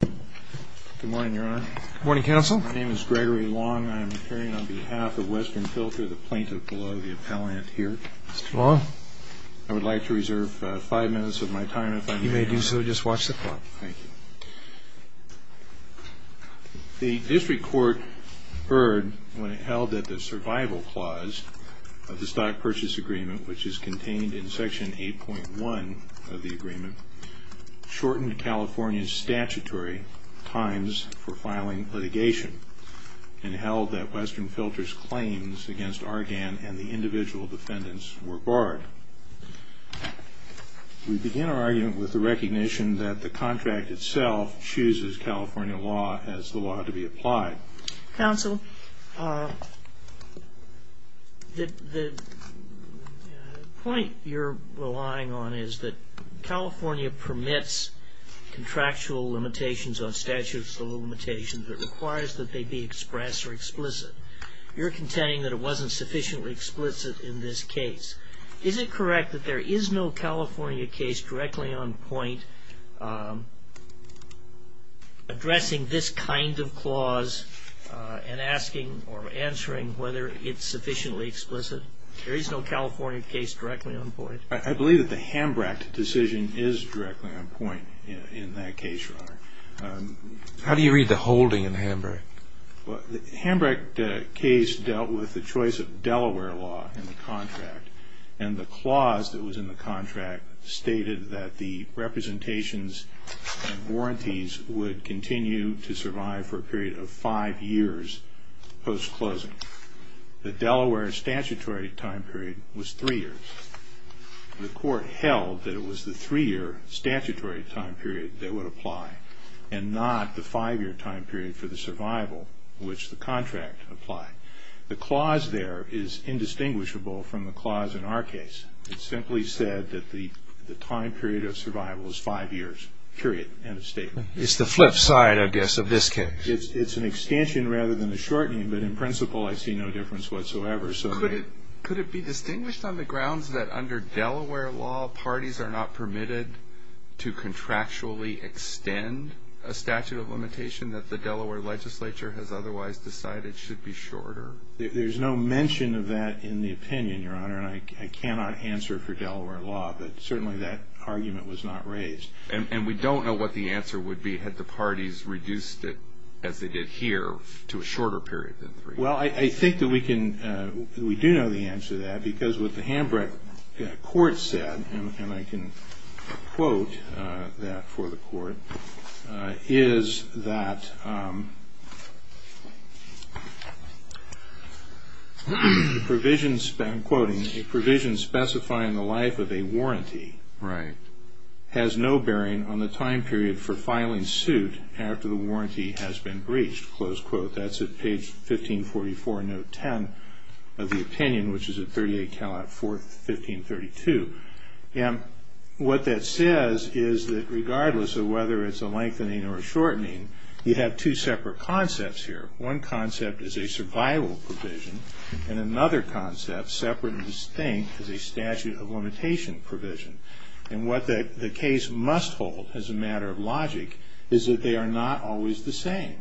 Good morning, Your Honor. Good morning, Counsel. My name is Gregory Long. I am appearing on behalf of Western Filter, the plaintiff below the appellant here. Mr. Long. I would like to reserve five minutes of my time if I may. You may do so. Just watch the clock. Thank you. The district court heard when it held that the survival clause of the Stock Purchase Agreement, which is contained in Section 8.1 of the agreement, shortened California's statutory times for filing litigation and held that Western Filter's claims against Argan and the individual defendants were barred. We begin our argument with the recognition that the contract itself chooses California law as the law to be applied. Counsel, the point you're relying on is that California permits contractual limitations on statutes of limitations. It requires that they be expressed or explicit. You're contending that it wasn't sufficiently explicit in this case. Is it correct that there is no California case directly on point addressing this kind of clause and asking or answering whether it's sufficiently explicit? There is no California case directly on point. I believe that the Hambrick decision is directly on point in that case, Your Honor. The Hambrick case dealt with the choice of Delaware law in the contract, and the clause that was in the contract stated that the representations and warranties would continue to survive for a period of five years post-closing. The Delaware statutory time period was three years. The court held that it was the three-year statutory time period that would apply and not the five-year time period for the survival which the contract applied. The clause there is indistinguishable from the clause in our case. It simply said that the time period of survival is five years, period, end of statement. It's the flip side, I guess, of this case. It's an extension rather than a shortening, but in principle I see no difference whatsoever. Could it be distinguished on the grounds that under Delaware law, parties are not permitted to contractually extend a statute of limitation that the Delaware legislature has otherwise decided should be shorter? There's no mention of that in the opinion, Your Honor, and I cannot answer for Delaware law, but certainly that argument was not raised. And we don't know what the answer would be had the parties reduced it, as they did here, to a shorter period than three years. Well, I think that we do know the answer to that because what the Hambrick court said, and I can quote that for the court, is that a provision specifying the life of a warranty has no bearing on the time period for filing suit after the warranty has been breached. That's at page 1544, note 10 of the opinion, which is at 38 Calat 4, 1532. And what that says is that regardless of whether it's a lengthening or a shortening, you have two separate concepts here. One concept is a survival provision, and another concept, separate and distinct, is a statute of limitation provision. And what the case must hold as a matter of logic is that they are not always the same.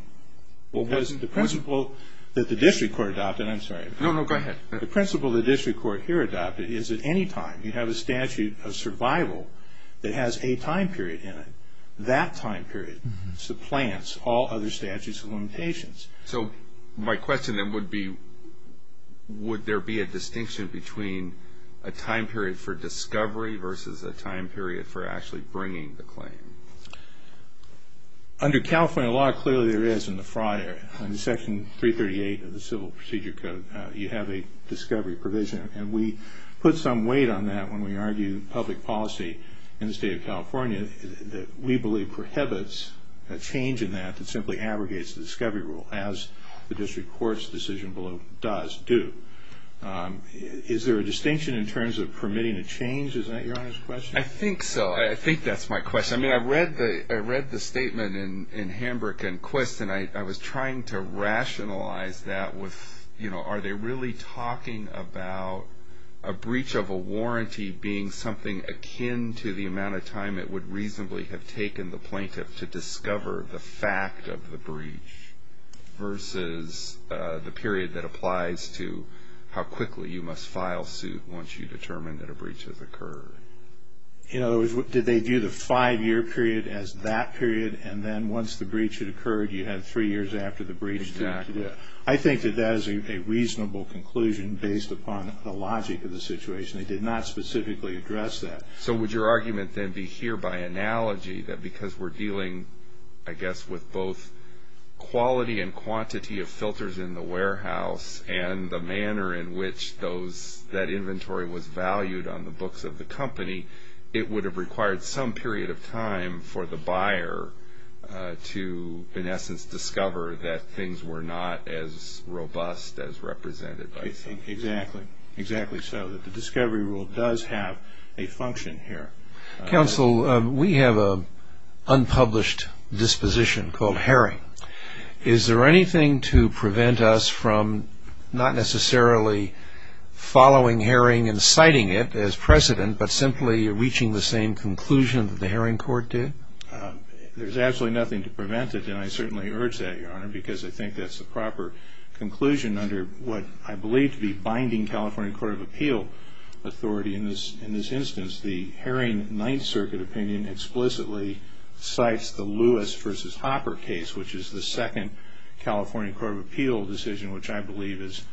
The principle that the district court adopted, I'm sorry. No, no, go ahead. The principle the district court here adopted is that any time you have a statute of survival that has a time period in it, that time period supplants all other statutes of limitations. So my question then would be would there be a distinction between a time period for discovery versus a time period for actually bringing the claim? Under California law, clearly there is in the fraud area. In Section 338 of the Civil Procedure Code, you have a discovery provision, and we put some weight on that when we argue public policy in the state of California that we believe prohibits a change in that that simply abrogates the discovery rule, as the district court's decision does do. Is there a distinction in terms of permitting a change? Is that Your Honor's question? I think so. I think that's my question. I read the statement in Hambrick and Quist, and I was trying to rationalize that with, you know, are they really talking about a breach of a warranty being something akin to the amount of time it would reasonably have taken the plaintiff to discover the fact of the breach versus the period that applies to how quickly you must file suit once you determine that a breach has occurred. In other words, did they view the five-year period as that period, and then once the breach had occurred, you had three years after the breach. Exactly. I think that that is a reasonable conclusion based upon the logic of the situation. They did not specifically address that. So would your argument then be here by analogy that because we're dealing, I guess, with both quality and quantity of filters in the warehouse and the manner in which that inventory was valued on the books of the company, it would have required some period of time for the buyer to, in essence, discover that things were not as robust as represented by the company? Exactly. Exactly so, that the discovery rule does have a function here. Counsel, we have an unpublished disposition called herring. Is there anything to prevent us from not necessarily following herring and citing it as precedent, but simply reaching the same conclusion that the Herring Court did? There's absolutely nothing to prevent it, and I certainly urge that, Your Honor, because I think that's the proper conclusion under what I believe to be binding California Court of Appeal authority in this instance. The Herring Ninth Circuit opinion explicitly cites the Lewis versus Hopper case, which is the second California Court of Appeal decision, which I believe is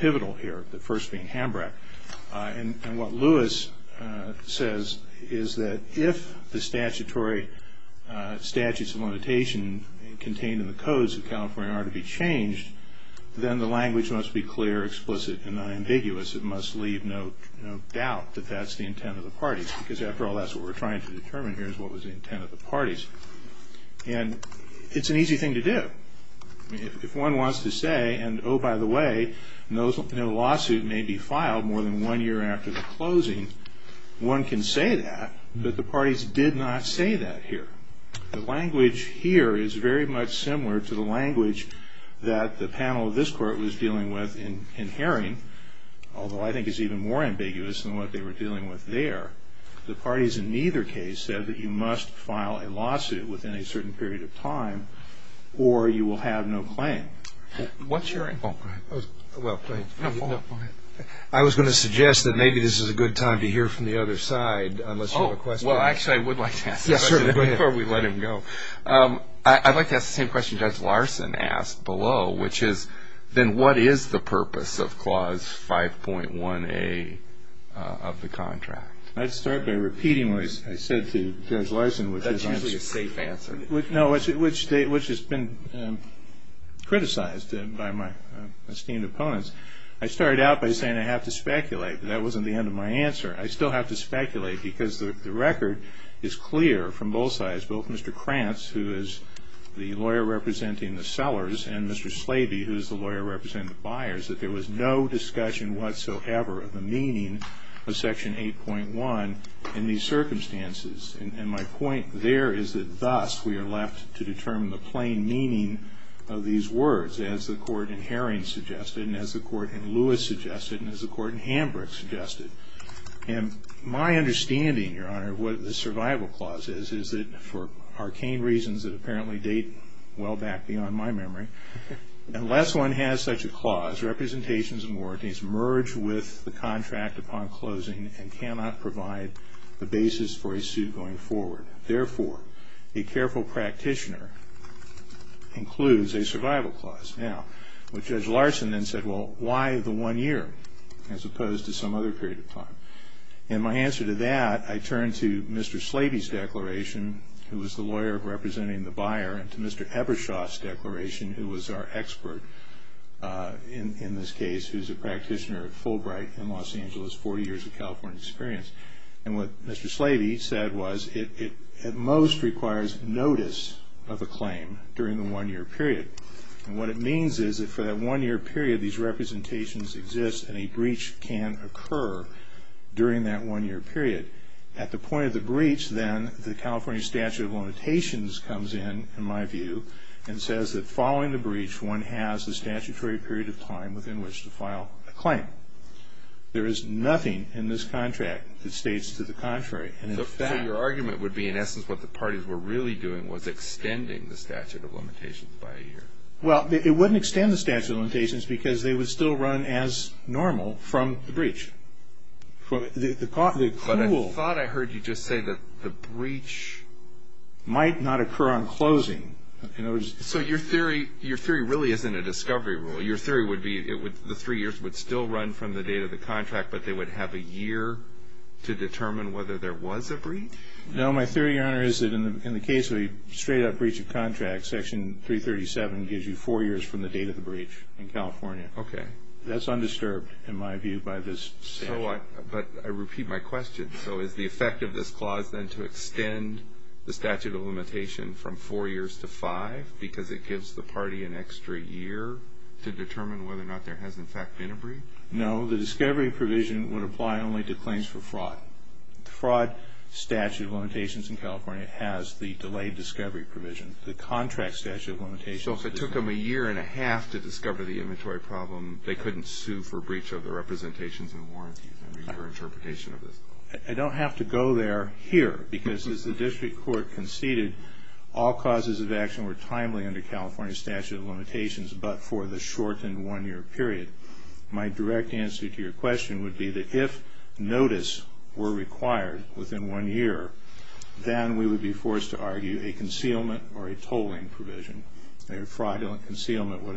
pivotal here, the first being Hambrack. And what Lewis says is that if the statutory statutes of limitation contained in the codes of California are to be changed, then the language must be clear, explicit, and unambiguous. It must leave no doubt that that's the intent of the parties, because after all that's what we're trying to determine here is what was the intent of the parties. And it's an easy thing to do. If one wants to say, and oh, by the way, no lawsuit may be filed more than one year after the closing, one can say that, but the parties did not say that here. The language here is very much similar to the language that the panel of this court was dealing with in Herring, although I think it's even more ambiguous than what they were dealing with there. The parties in neither case said that you must file a lawsuit within a certain period of time or you will have no claim. What's your input? I was going to suggest that maybe this is a good time to hear from the other side, unless you have a question. Well, actually, I would like to ask this question before we let him go. I'd like to ask the same question Judge Larson asked below, then what is the purpose of Clause 5.1A of the contract? I'd start by repeating what I said to Judge Larson. That's usually a safe answer. No, which has been criticized by my esteemed opponents. I started out by saying I have to speculate, but that wasn't the end of my answer. I still have to speculate because the record is clear from both sides, both Mr. Krantz, who is the lawyer representing the sellers, and Mr. Slaby, who is the lawyer representing the buyers, that there was no discussion whatsoever of the meaning of Section 8.1 in these circumstances. And my point there is that thus we are left to determine the plain meaning of these words, as the Court in Herring suggested and as the Court in Lewis suggested and as the Court in Hambrick suggested. And my understanding, Your Honor, of what the Survival Clause is, is that for arcane reasons that apparently date well back beyond my memory, unless one has such a clause, representations and warranties merge with the contract upon closing and cannot provide the basis for a suit going forward. Therefore, a careful practitioner includes a Survival Clause. Now, what Judge Larson then said, well, why the one year as opposed to some other period of time? And my answer to that, I turn to Mr. Slaby's declaration, who was the lawyer representing the buyer, and to Mr. Ebershaw's declaration, who was our expert in this case, who is a practitioner at Fulbright in Los Angeles, 40 years of California experience. And what Mr. Slaby said was it at most requires notice of a claim during the one-year period. And what it means is that for that one-year period, these representations exist and a breach can occur during that one-year period. At the point of the breach, then, the California Statute of Limitations comes in, in my view, and says that following the breach, one has the statutory period of time within which to file a claim. There is nothing in this contract that states to the contrary. So your argument would be, in essence, what the parties were really doing was extending the Statute of Limitations by a year. Well, it wouldn't extend the Statute of Limitations because they would still run as normal from the breach. But I thought I heard you just say that the breach might not occur on closing. So your theory really isn't a discovery rule. Your theory would be the three years would still run from the date of the contract, but they would have a year to determine whether there was a breach? No, my theory, Your Honor, is that in the case of a straight-up breach of contract, Section 337 gives you four years from the date of the breach in California. Okay. That's undisturbed, in my view, by this statute. But I repeat my question. So is the effect of this clause then to extend the Statute of Limitation from four years to five because it gives the party an extra year to determine whether or not there has, in fact, been a breach? No. The discovery provision would apply only to claims for fraud. The fraud Statute of Limitations in California has the delayed discovery provision. The contract Statute of Limitations doesn't. So if it took them a year and a half to discover the inventory problem, they couldn't sue for breach of the representations and warranties under your interpretation of this? I don't have to go there here because, as the district court conceded, all causes of action were timely under California's Statute of Limitations but for the shortened one-year period. My direct answer to your question would be that if notice were required within one year, then we would be forced to argue a concealment or a tolling provision. A fraudulent concealment would,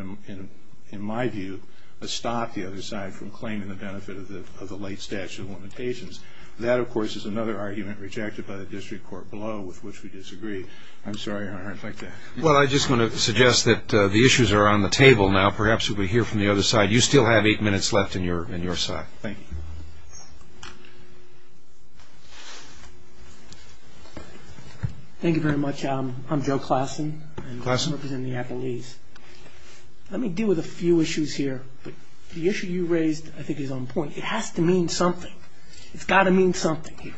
in my view, stop the other side from claiming the benefit of the late Statute of Limitations. That, of course, is another argument rejected by the district court below, with which we disagree. I'm sorry, Your Honor, if I could. Well, I just want to suggest that the issues are on the table now. Perhaps if we hear from the other side. You still have eight minutes left on your side. Thank you. Thank you very much. I'm Joe Klassen. Klassen. I represent the appellees. Let me deal with a few issues here. The issue you raised, I think, is on point. It has to mean something. It's got to mean something here.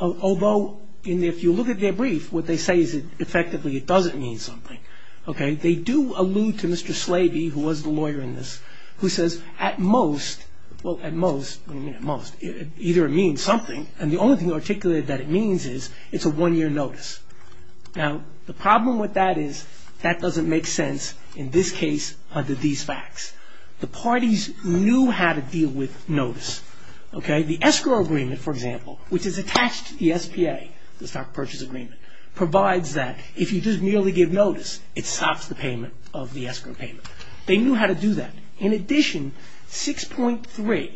Although, if you look at their brief, what they say is effectively it doesn't mean something. They do allude to Mr. Slaby, who was the lawyer in this, who says, at most, well, at most, what do you mean at most? Either it means something, and the only thing articulated that it means is it's a one-year notice. Now, the problem with that is that doesn't make sense in this case under these facts. The parties knew how to deal with notice. The escrow agreement, for example, which is attached to the SPA, the stock purchase agreement, provides that if you just merely give notice, it stops the payment of the escrow payment. They knew how to do that. In addition, 6.3,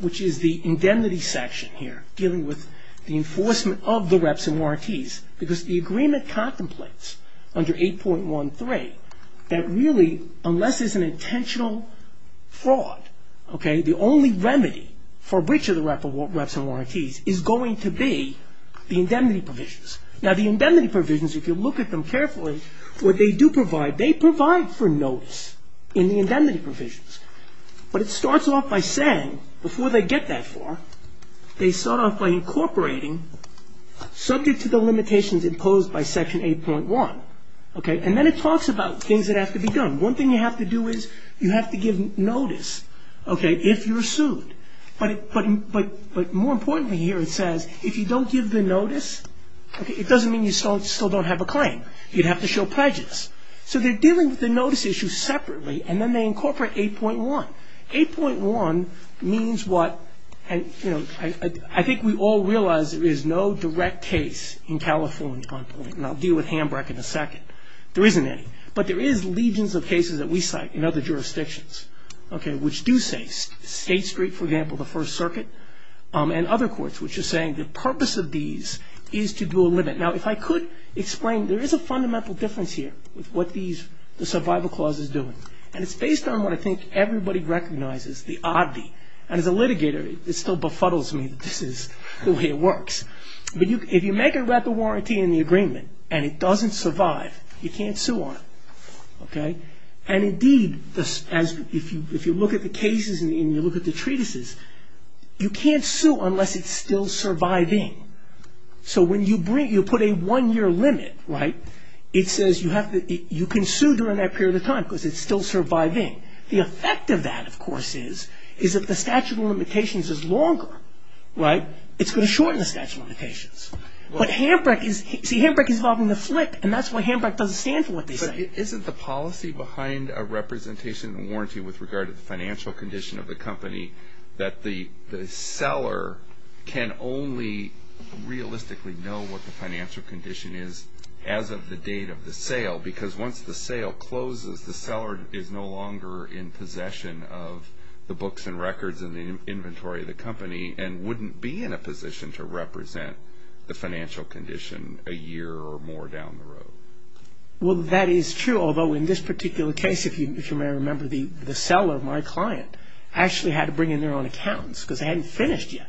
which is the indemnity section here, dealing with the enforcement of the reps and warranties, because the agreement contemplates under 8.13 that really, unless it's an intentional fraud, the only remedy for breach of the reps and warranties is going to be the indemnity provisions. Now, the indemnity provisions, if you look at them carefully, what they do provide, they provide for notice in the indemnity provisions. But it starts off by saying, before they get that far, they start off by incorporating subject to the limitations imposed by Section 8.1. One thing you have to do is you have to give notice, okay, if you're sued. But more importantly here, it says, if you don't give the notice, it doesn't mean you still don't have a claim. You'd have to show prejudice. So they're dealing with the notice issue separately, and then they incorporate 8.1. 8.1 means what, you know, I think we all realize there is no direct case in California, and I'll deal with Hamburg in a second. There isn't any. But there is legions of cases that we cite in other jurisdictions, okay, which do say State Street, for example, the First Circuit, and other courts which are saying the purpose of these is to do a limit. Now, if I could explain, there is a fundamental difference here with what the survival clause is doing, and it's based on what I think everybody recognizes, the oddity. And as a litigator, it still befuddles me that this is the way it works. But if you make a warranty in the agreement and it doesn't survive, you can't sue on it. And indeed, if you look at the cases and you look at the treatises, you can't sue unless it's still surviving. So when you put a one-year limit, right, it says you can sue during that period of time because it's still surviving. The effect of that, of course, is if the statute of limitations is longer, right, it's going to shorten the statute of limitations. But HAMBRICK is involving the flip, and that's why HAMBRICK doesn't stand for what they say. But isn't the policy behind a representation and warranty with regard to the financial condition of the company that the seller can only realistically know what the financial condition is as of the date of the sale? Because once the sale closes, the seller is no longer in possession of the books and records and the inventory of the company and wouldn't be in a position to represent the financial condition a year or more down the road. Well, that is true, although in this particular case, if you may remember, the seller, my client, actually had to bring in their own accountants because they hadn't finished yet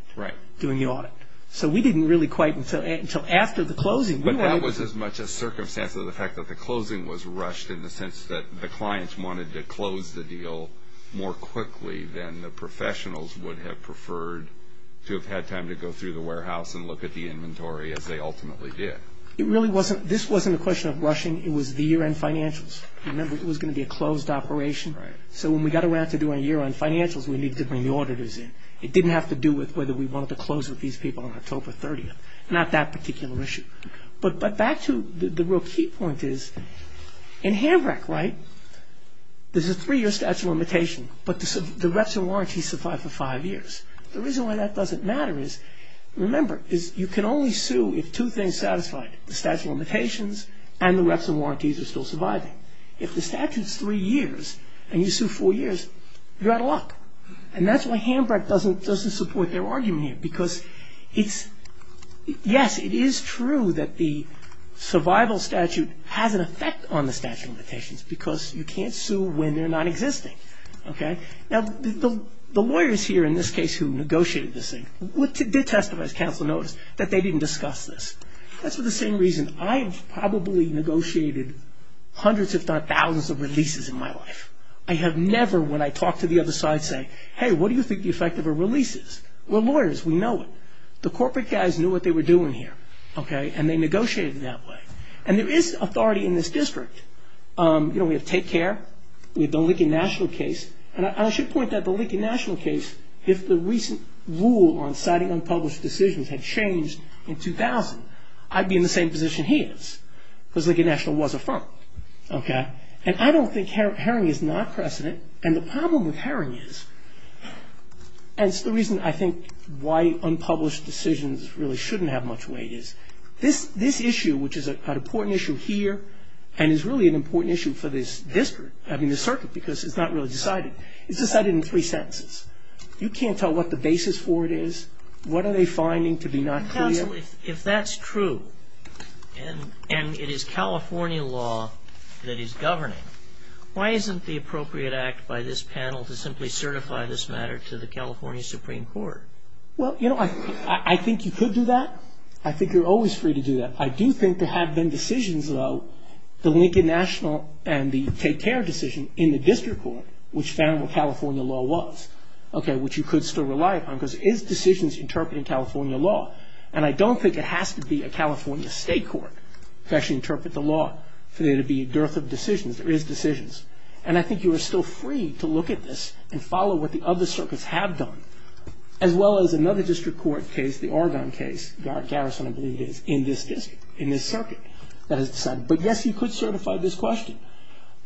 doing the audit. So we didn't really quite until after the closing. But that was as much a circumstance as the fact that the closing was rushed in the sense that the clients wanted to close the deal more quickly than the professionals would have preferred to have had time to go through the warehouse and look at the inventory as they ultimately did. This wasn't a question of rushing. It was the year-end financials. Remember, it was going to be a closed operation. So when we got around to doing a year-end financials, we needed to bring the auditors in. It didn't have to do with whether we wanted to close with these people on October 30th. Not that particular issue. But back to the real key point is, in Hambrick, right, there's a three-year statute of limitation, but the reps and warranties survive for five years. The reason why that doesn't matter is, remember, you can only sue if two things satisfy it, the statute of limitations and the reps and warranties are still surviving. If the statute's three years and you sue four years, you're out of luck. And that's why Hambrick doesn't support their argument here because it's, yes, it is true that the survival statute has an effect on the statute of limitations because you can't sue when they're nonexisting. Now, the lawyers here in this case who negotiated this thing did testify, as counsel noticed, that they didn't discuss this. That's for the same reason I've probably negotiated hundreds, if not thousands, of releases in my life. I have never, when I talk to the other side, say, hey, what do you think the effect of a release is? We're lawyers. We know it. The corporate guys knew what they were doing here, and they negotiated it that way. And there is authority in this district. We have Take Care. We have the Lincoln National case. And I should point out the Lincoln National case, if the recent rule on citing unpublished decisions had changed in 2000, I'd be in the same position he is because Lincoln National was a firm. And I don't think herring is not precedent, and the problem with herring is, and it's the reason I think why unpublished decisions really shouldn't have much weight, is this issue, which is an important issue here and is really an important issue for this district, I mean, this circuit, because it's not really decided. It's decided in three sentences. You can't tell what the basis for it is. What are they finding to be not clear? If that's true and it is California law that is governing, why isn't the appropriate act by this panel to simply certify this matter to the California Supreme Court? Well, you know, I think you could do that. I think you're always free to do that. I do think there have been decisions, though, the Lincoln National and the Take Care decision in the district court, which found what California law was, okay, which you could still rely upon because it is decisions interpreted in California law. And I don't think it has to be a California state court to actually interpret the law for there to be a dearth of decisions. There is decisions. And I think you are still free to look at this and follow what the other circuits have done, as well as another district court case, the Oregon case, Garrison, I believe it is, in this district, in this circuit that has decided. But, yes, you could certify this question.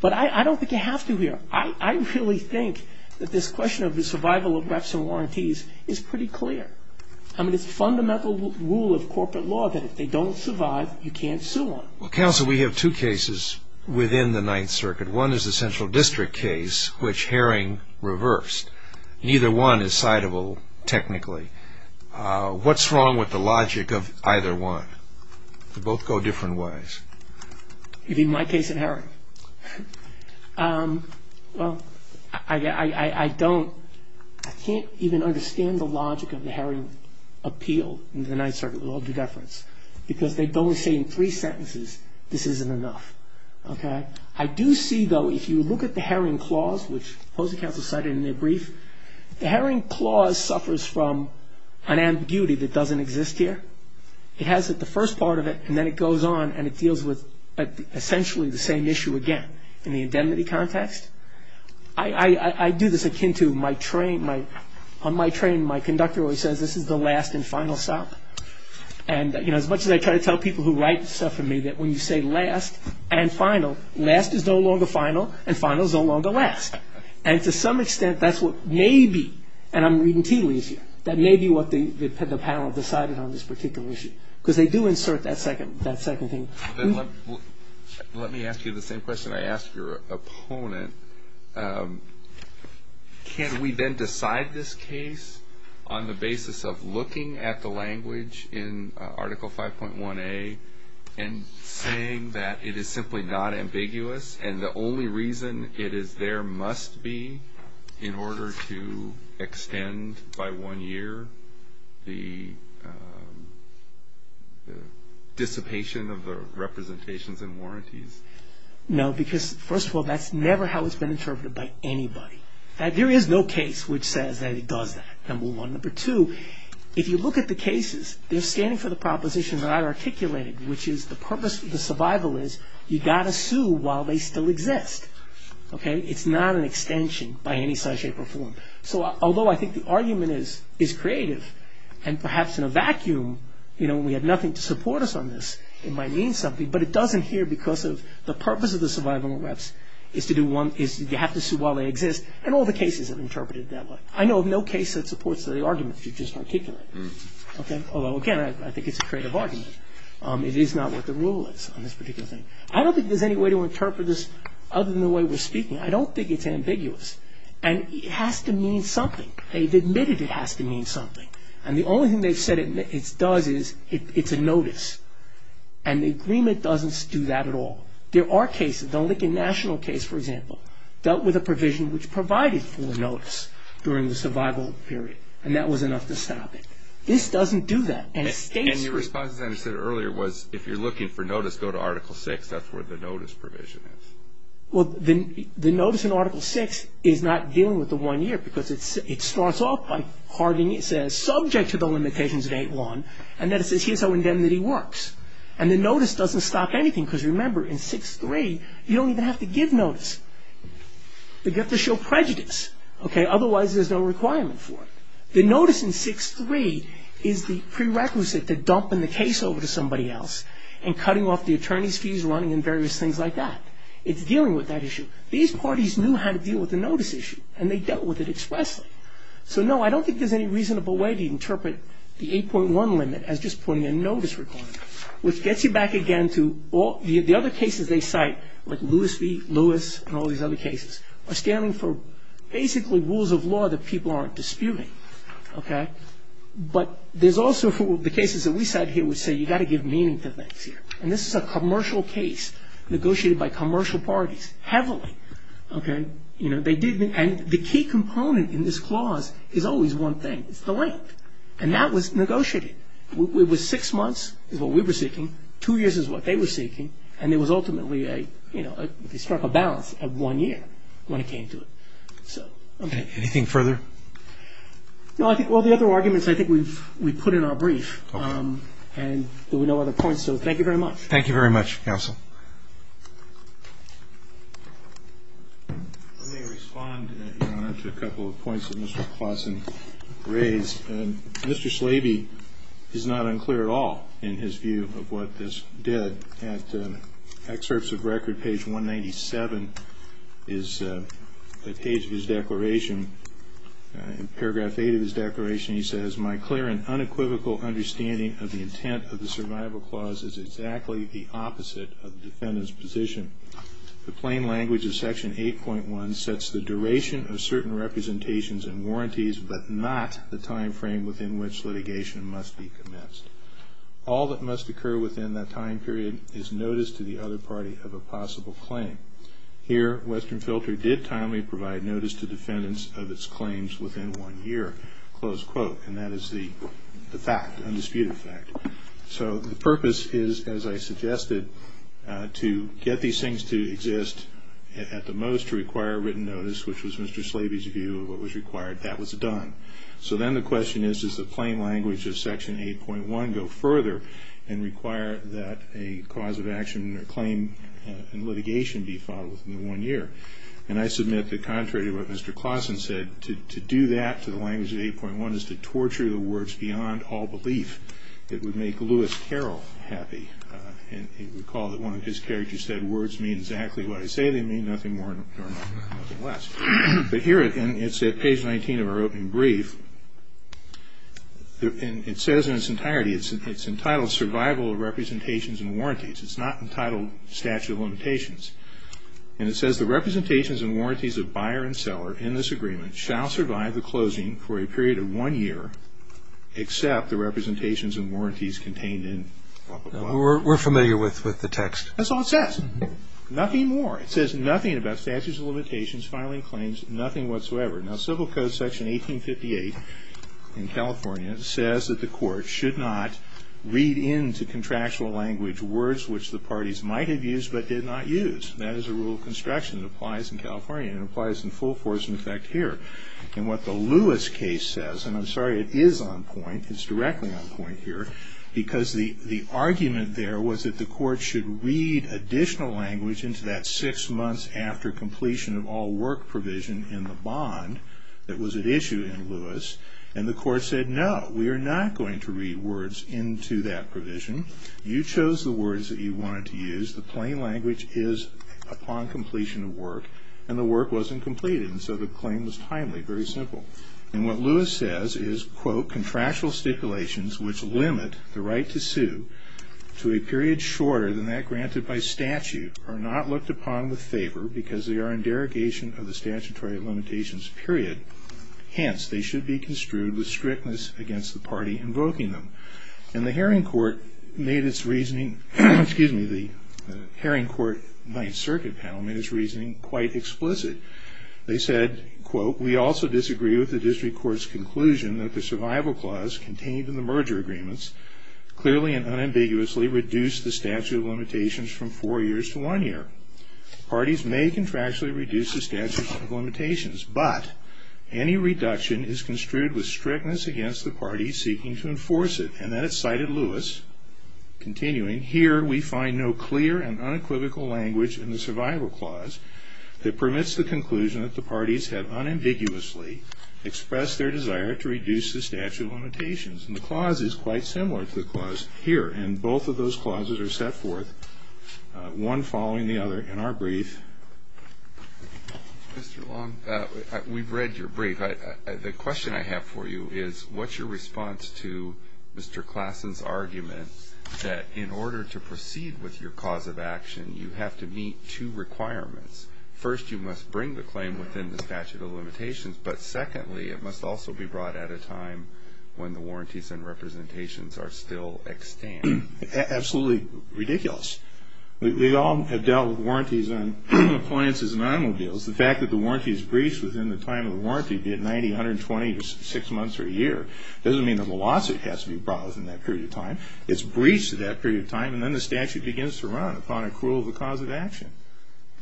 But I don't think you have to here. I really think that this question of the survival of reps and warranties is pretty clear. I mean, it's a fundamental rule of corporate law that if they don't survive, you can't sue them. Well, counsel, we have two cases within the Ninth Circuit. One is the central district case, which Herring reversed. Neither one is citable technically. What's wrong with the logic of either one? They both go different ways. You mean my case and Herring? Well, I don't, I can't even understand the logic of the Herring appeal in the Ninth Circuit with all due deference, because they only say in three sentences, this isn't enough. I do see, though, if you look at the Herring clause, which Posey counsel cited in their brief, the Herring clause suffers from an ambiguity that doesn't exist here. It has the first part of it, and then it goes on, and it deals with essentially the same issue again in the indemnity context. I do this akin to my train. On my train, my conductor always says, this is the last and final stop. And as much as I try to tell people who write stuff for me that when you say last and final, last is no longer final, and final is no longer last. And to some extent, that's what may be, and I'm reading tea leaves here, that may be what the panel decided on this particular issue, because they do insert that second thing. Let me ask you the same question I asked your opponent. Can we then decide this case on the basis of looking at the language in Article 5.1a and saying that it is simply not ambiguous, and the only reason it is there must be in order to extend by one year the dissipation of the representations and warranties? No, because first of all, that's never how it's been interpreted by anybody. There is no case which says that it does that. Number one. Number two, if you look at the cases, they're standing for the propositions that I articulated, which is the purpose of the survival is you've got to sue while they still exist. It's not an extension by any such shape or form. So although I think the argument is creative, and perhaps in a vacuum, when we have nothing to support us on this, it might mean something, but it doesn't here because of the purpose of the survival is you have to sue while they exist, and all the cases are interpreted that way. I know of no case that supports the argument you just articulated. Although again, I think it's a creative argument. It is not what the rule is on this particular thing. I don't think there's any way to interpret this other than the way we're speaking. I don't think it's ambiguous. And it has to mean something. They've admitted it has to mean something. And the only thing they've said it does is it's a notice. And the agreement doesn't do that at all. There are cases. The Lincoln National case, for example, dealt with a provision which provided for a notice during the survival period, and that was enough to stop it. This doesn't do that. And the response, as I said earlier, was if you're looking for notice, go to Article VI. That's where the notice provision is. The notice in Article VI is not dealing with the one year because it starts off by hardening it, says subject to the limitations of 8-1, and then it says here's how indemnity works. And the notice doesn't stop anything because remember in 6-3 you don't even have to give notice. You get to show prejudice. Otherwise there's no requirement for it. The notice in 6-3 is the prerequisite to dumping the case over to somebody else and cutting off the attorney's fees running and various things like that. It's dealing with that issue. These parties knew how to deal with the notice issue, and they dealt with it expressly. So, no, I don't think there's any reasonable way to interpret the 8-1 limit as just putting a notice requirement, which gets you back again to the other cases they cite, like Lewis v. Lewis and all these other cases, are standing for basically rules of law that people aren't disputing. But there's also the cases that we cite here that would say you've got to give meaning to things here. And this is a commercial case negotiated by commercial parties heavily. And the key component in this clause is always one thing. It's the length. And that was negotiated. It was 6 months is what we were seeking, 2 years is what they were seeking, and there was ultimately a, you know, they struck a balance of 1 year when it came to it. Anything further? No, I think all the other arguments I think we've put in our brief and there were no other points. So, thank you very much. Thank you very much, counsel. I may respond, Your Honor, to a couple of points that Mr. Claussen raised. Mr. Slaby is not unclear at all in his view of what this did. At excerpts of record, page 197 is the page of his declaration. In paragraph 8 of his declaration, he says, my clear and unequivocal understanding of the intent of the survival clause is exactly the opposite of the defendant's position. The plain language of section 8.1 sets the duration of certain representations and warranties but not the time frame within which litigation must be commenced. All that must occur within that time period is notice to the other party of a possible claim. Here, Western Filter did timely provide notice to defendants of its claims within 1 year. And that is the fact, undisputed fact. So the purpose is, as I suggested, to get these things to exist at the most, to require written notice, which was Mr. Slaby's view of what was required. That was done. So then the question is, does the plain language of section 8.1 go further and require that a cause of action or claim in litigation be followed within the 1 year? And I submit that contrary to what Mr. Clausen said, to do that to the language of 8.1 is to torture the words beyond all belief. It would make Lewis Carroll happy. And recall that one of his characters said, words mean exactly what I say they mean, nothing more, nothing less. But here, and it's at page 19 of our opening brief, it says in its entirety, it's entitled Survival of Representations and Warranties. It's not entitled Statute of Limitations. And it says, The representations and warranties of buyer and seller in this agreement shall survive the closing for a period of 1 year, except the representations and warranties contained in. We're familiar with the text. That's all it says. Nothing more. It says nothing about statutes of limitations, filing claims, nothing whatsoever. Now, civil code section 1858 in California says that the court should not read into contractual language words which the parties might have used but did not use. That is a rule of construction. It applies in California. It applies in full force, in effect, here. And what the Lewis case says, and I'm sorry, it is on point, it's directly on point here, because the argument there was that the court should read additional language into that six months after completion of all work provision in the bond that was at issue in Lewis. And the court said, no, we are not going to read words into that provision. You chose the words that you wanted to use. The plain language is upon completion of work. And the work wasn't completed. And so the claim was timely, very simple. And what Lewis says is, quote, Contractual stipulations which limit the right to sue to a period shorter than that granted by statute are not looked upon with favor because they are in derogation of the statutory limitations period. Hence, they should be construed with strictness against the party invoking them. And the Haring Court made its reasoning, excuse me, the Haring Court Ninth Circuit panel made its reasoning quite explicit. They said, quote, We also disagree with the district court's conclusion that the survival clause contained in the merger agreements clearly and unambiguously reduced the statute of limitations from four years to one year. Parties may contractually reduce the statute of limitations, but any reduction is construed with strictness against the parties seeking to enforce it. And then it cited Lewis, continuing, Here we find no clear and unequivocal language in the survival clause that permits the conclusion that the parties have unambiguously expressed their desire to reduce the statute of limitations. And the clause is quite similar to the clause here. And both of those clauses are set forth one following the other in our brief. Mr. Long, we've read your brief. The question I have for you is what's your response to Mr. Klassen's argument that in order to proceed with your cause of action, you have to meet two requirements. First, you must bring the claim within the statute of limitations. But secondly, it must also be brought at a time when the warranties and representations are still extant. Absolutely ridiculous. We all have dealt with warranties on appliances and automobiles. The fact that the warranty is breached within the time of the warranty, be it 90, 120, or six months or a year, doesn't mean the lawsuit has to be brought within that period of time. It's breached at that period of time, and then the statute begins to run upon accrual of the cause of action.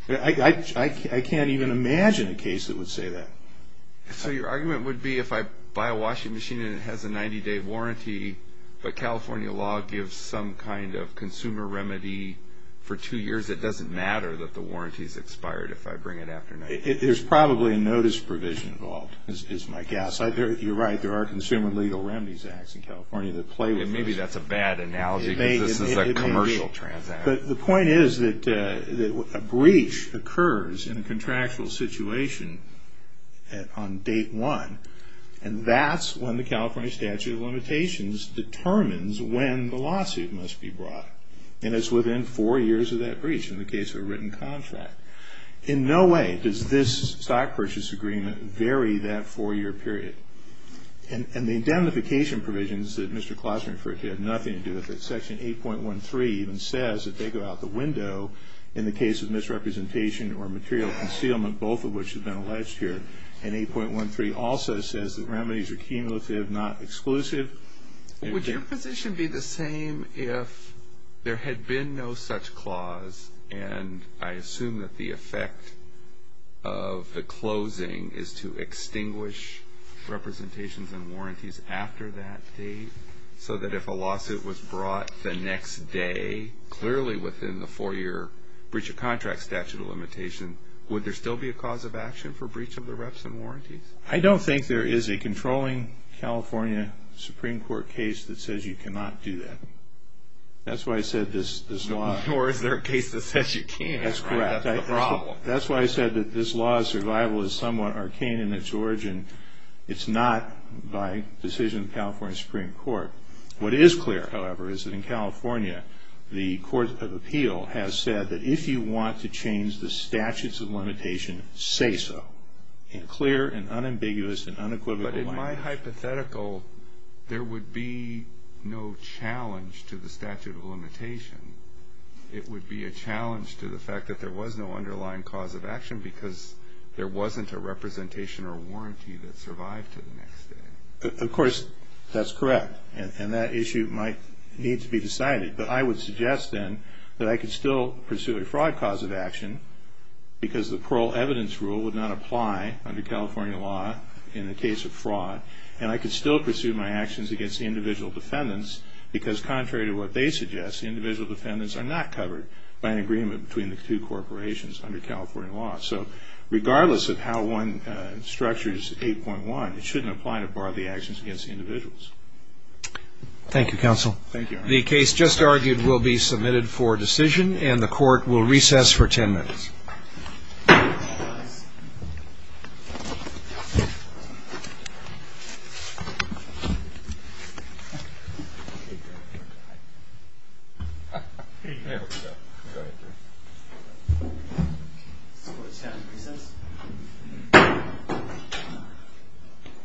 I can't even imagine a case that would say that. So your argument would be if I buy a washing machine and it has a 90-day warranty, but California law gives some kind of consumer remedy for two years, it doesn't matter that the warranty is expired if I bring it after 90 days. There's probably a notice provision involved, is my guess. You're right. There are Consumer Legal Remedies Acts in California that play with this. Maybe that's a bad analogy because this is a commercial transaction. The point is that a breach occurs in a contractual situation on date one, and that's when the California Statute of Limitations determines when the lawsuit must be brought, and it's within four years of that breach in the case of a written contract. In no way does this stock purchase agreement vary that four-year period. And the indemnification provisions that Mr. Klausner referred to have nothing to do with it. Section 8.13 even says that they go out the window in the case of misrepresentation or material concealment, both of which have been alleged here. And 8.13 also says that remedies are cumulative, not exclusive. Would your position be the same if there had been no such clause, and I assume that the effect of the closing is to extinguish representations and warranties after that date so that if a lawsuit was brought the next day, clearly within the four-year breach of contract statute of limitation, would there still be a cause of action for breach of the reps and warranties? I don't think there is a controlling California Supreme Court case that says you cannot do that. That's why I said this law. Nor is there a case that says you can't. That's correct. That's the problem. That's why I said that this law of survival is somewhat arcane in its origin. It's not by decision of the California Supreme Court. What is clear, however, is that in California, the court of appeal has said that if you want to change the statutes of limitation, say so. In clear and unambiguous and unequivocal language. But in my hypothetical, there would be no challenge to the statute of limitation. It would be a challenge to the fact that there was no underlying cause of action because there wasn't a representation or warranty that survived to the next day. Of course, that's correct. And that issue might need to be decided. But I would suggest then that I could still pursue a fraud cause of action because the parole evidence rule would not apply under California law in the case of fraud. And I could still pursue my actions against the individual defendants because contrary to what they suggest, the individual defendants are not covered by an agreement between the two corporations under California law. So regardless of how one structures 8.1, it shouldn't apply to bar the actions against the individuals. Thank you, counsel. The case just argued will be submitted for decision, and the court will recess for 10 minutes.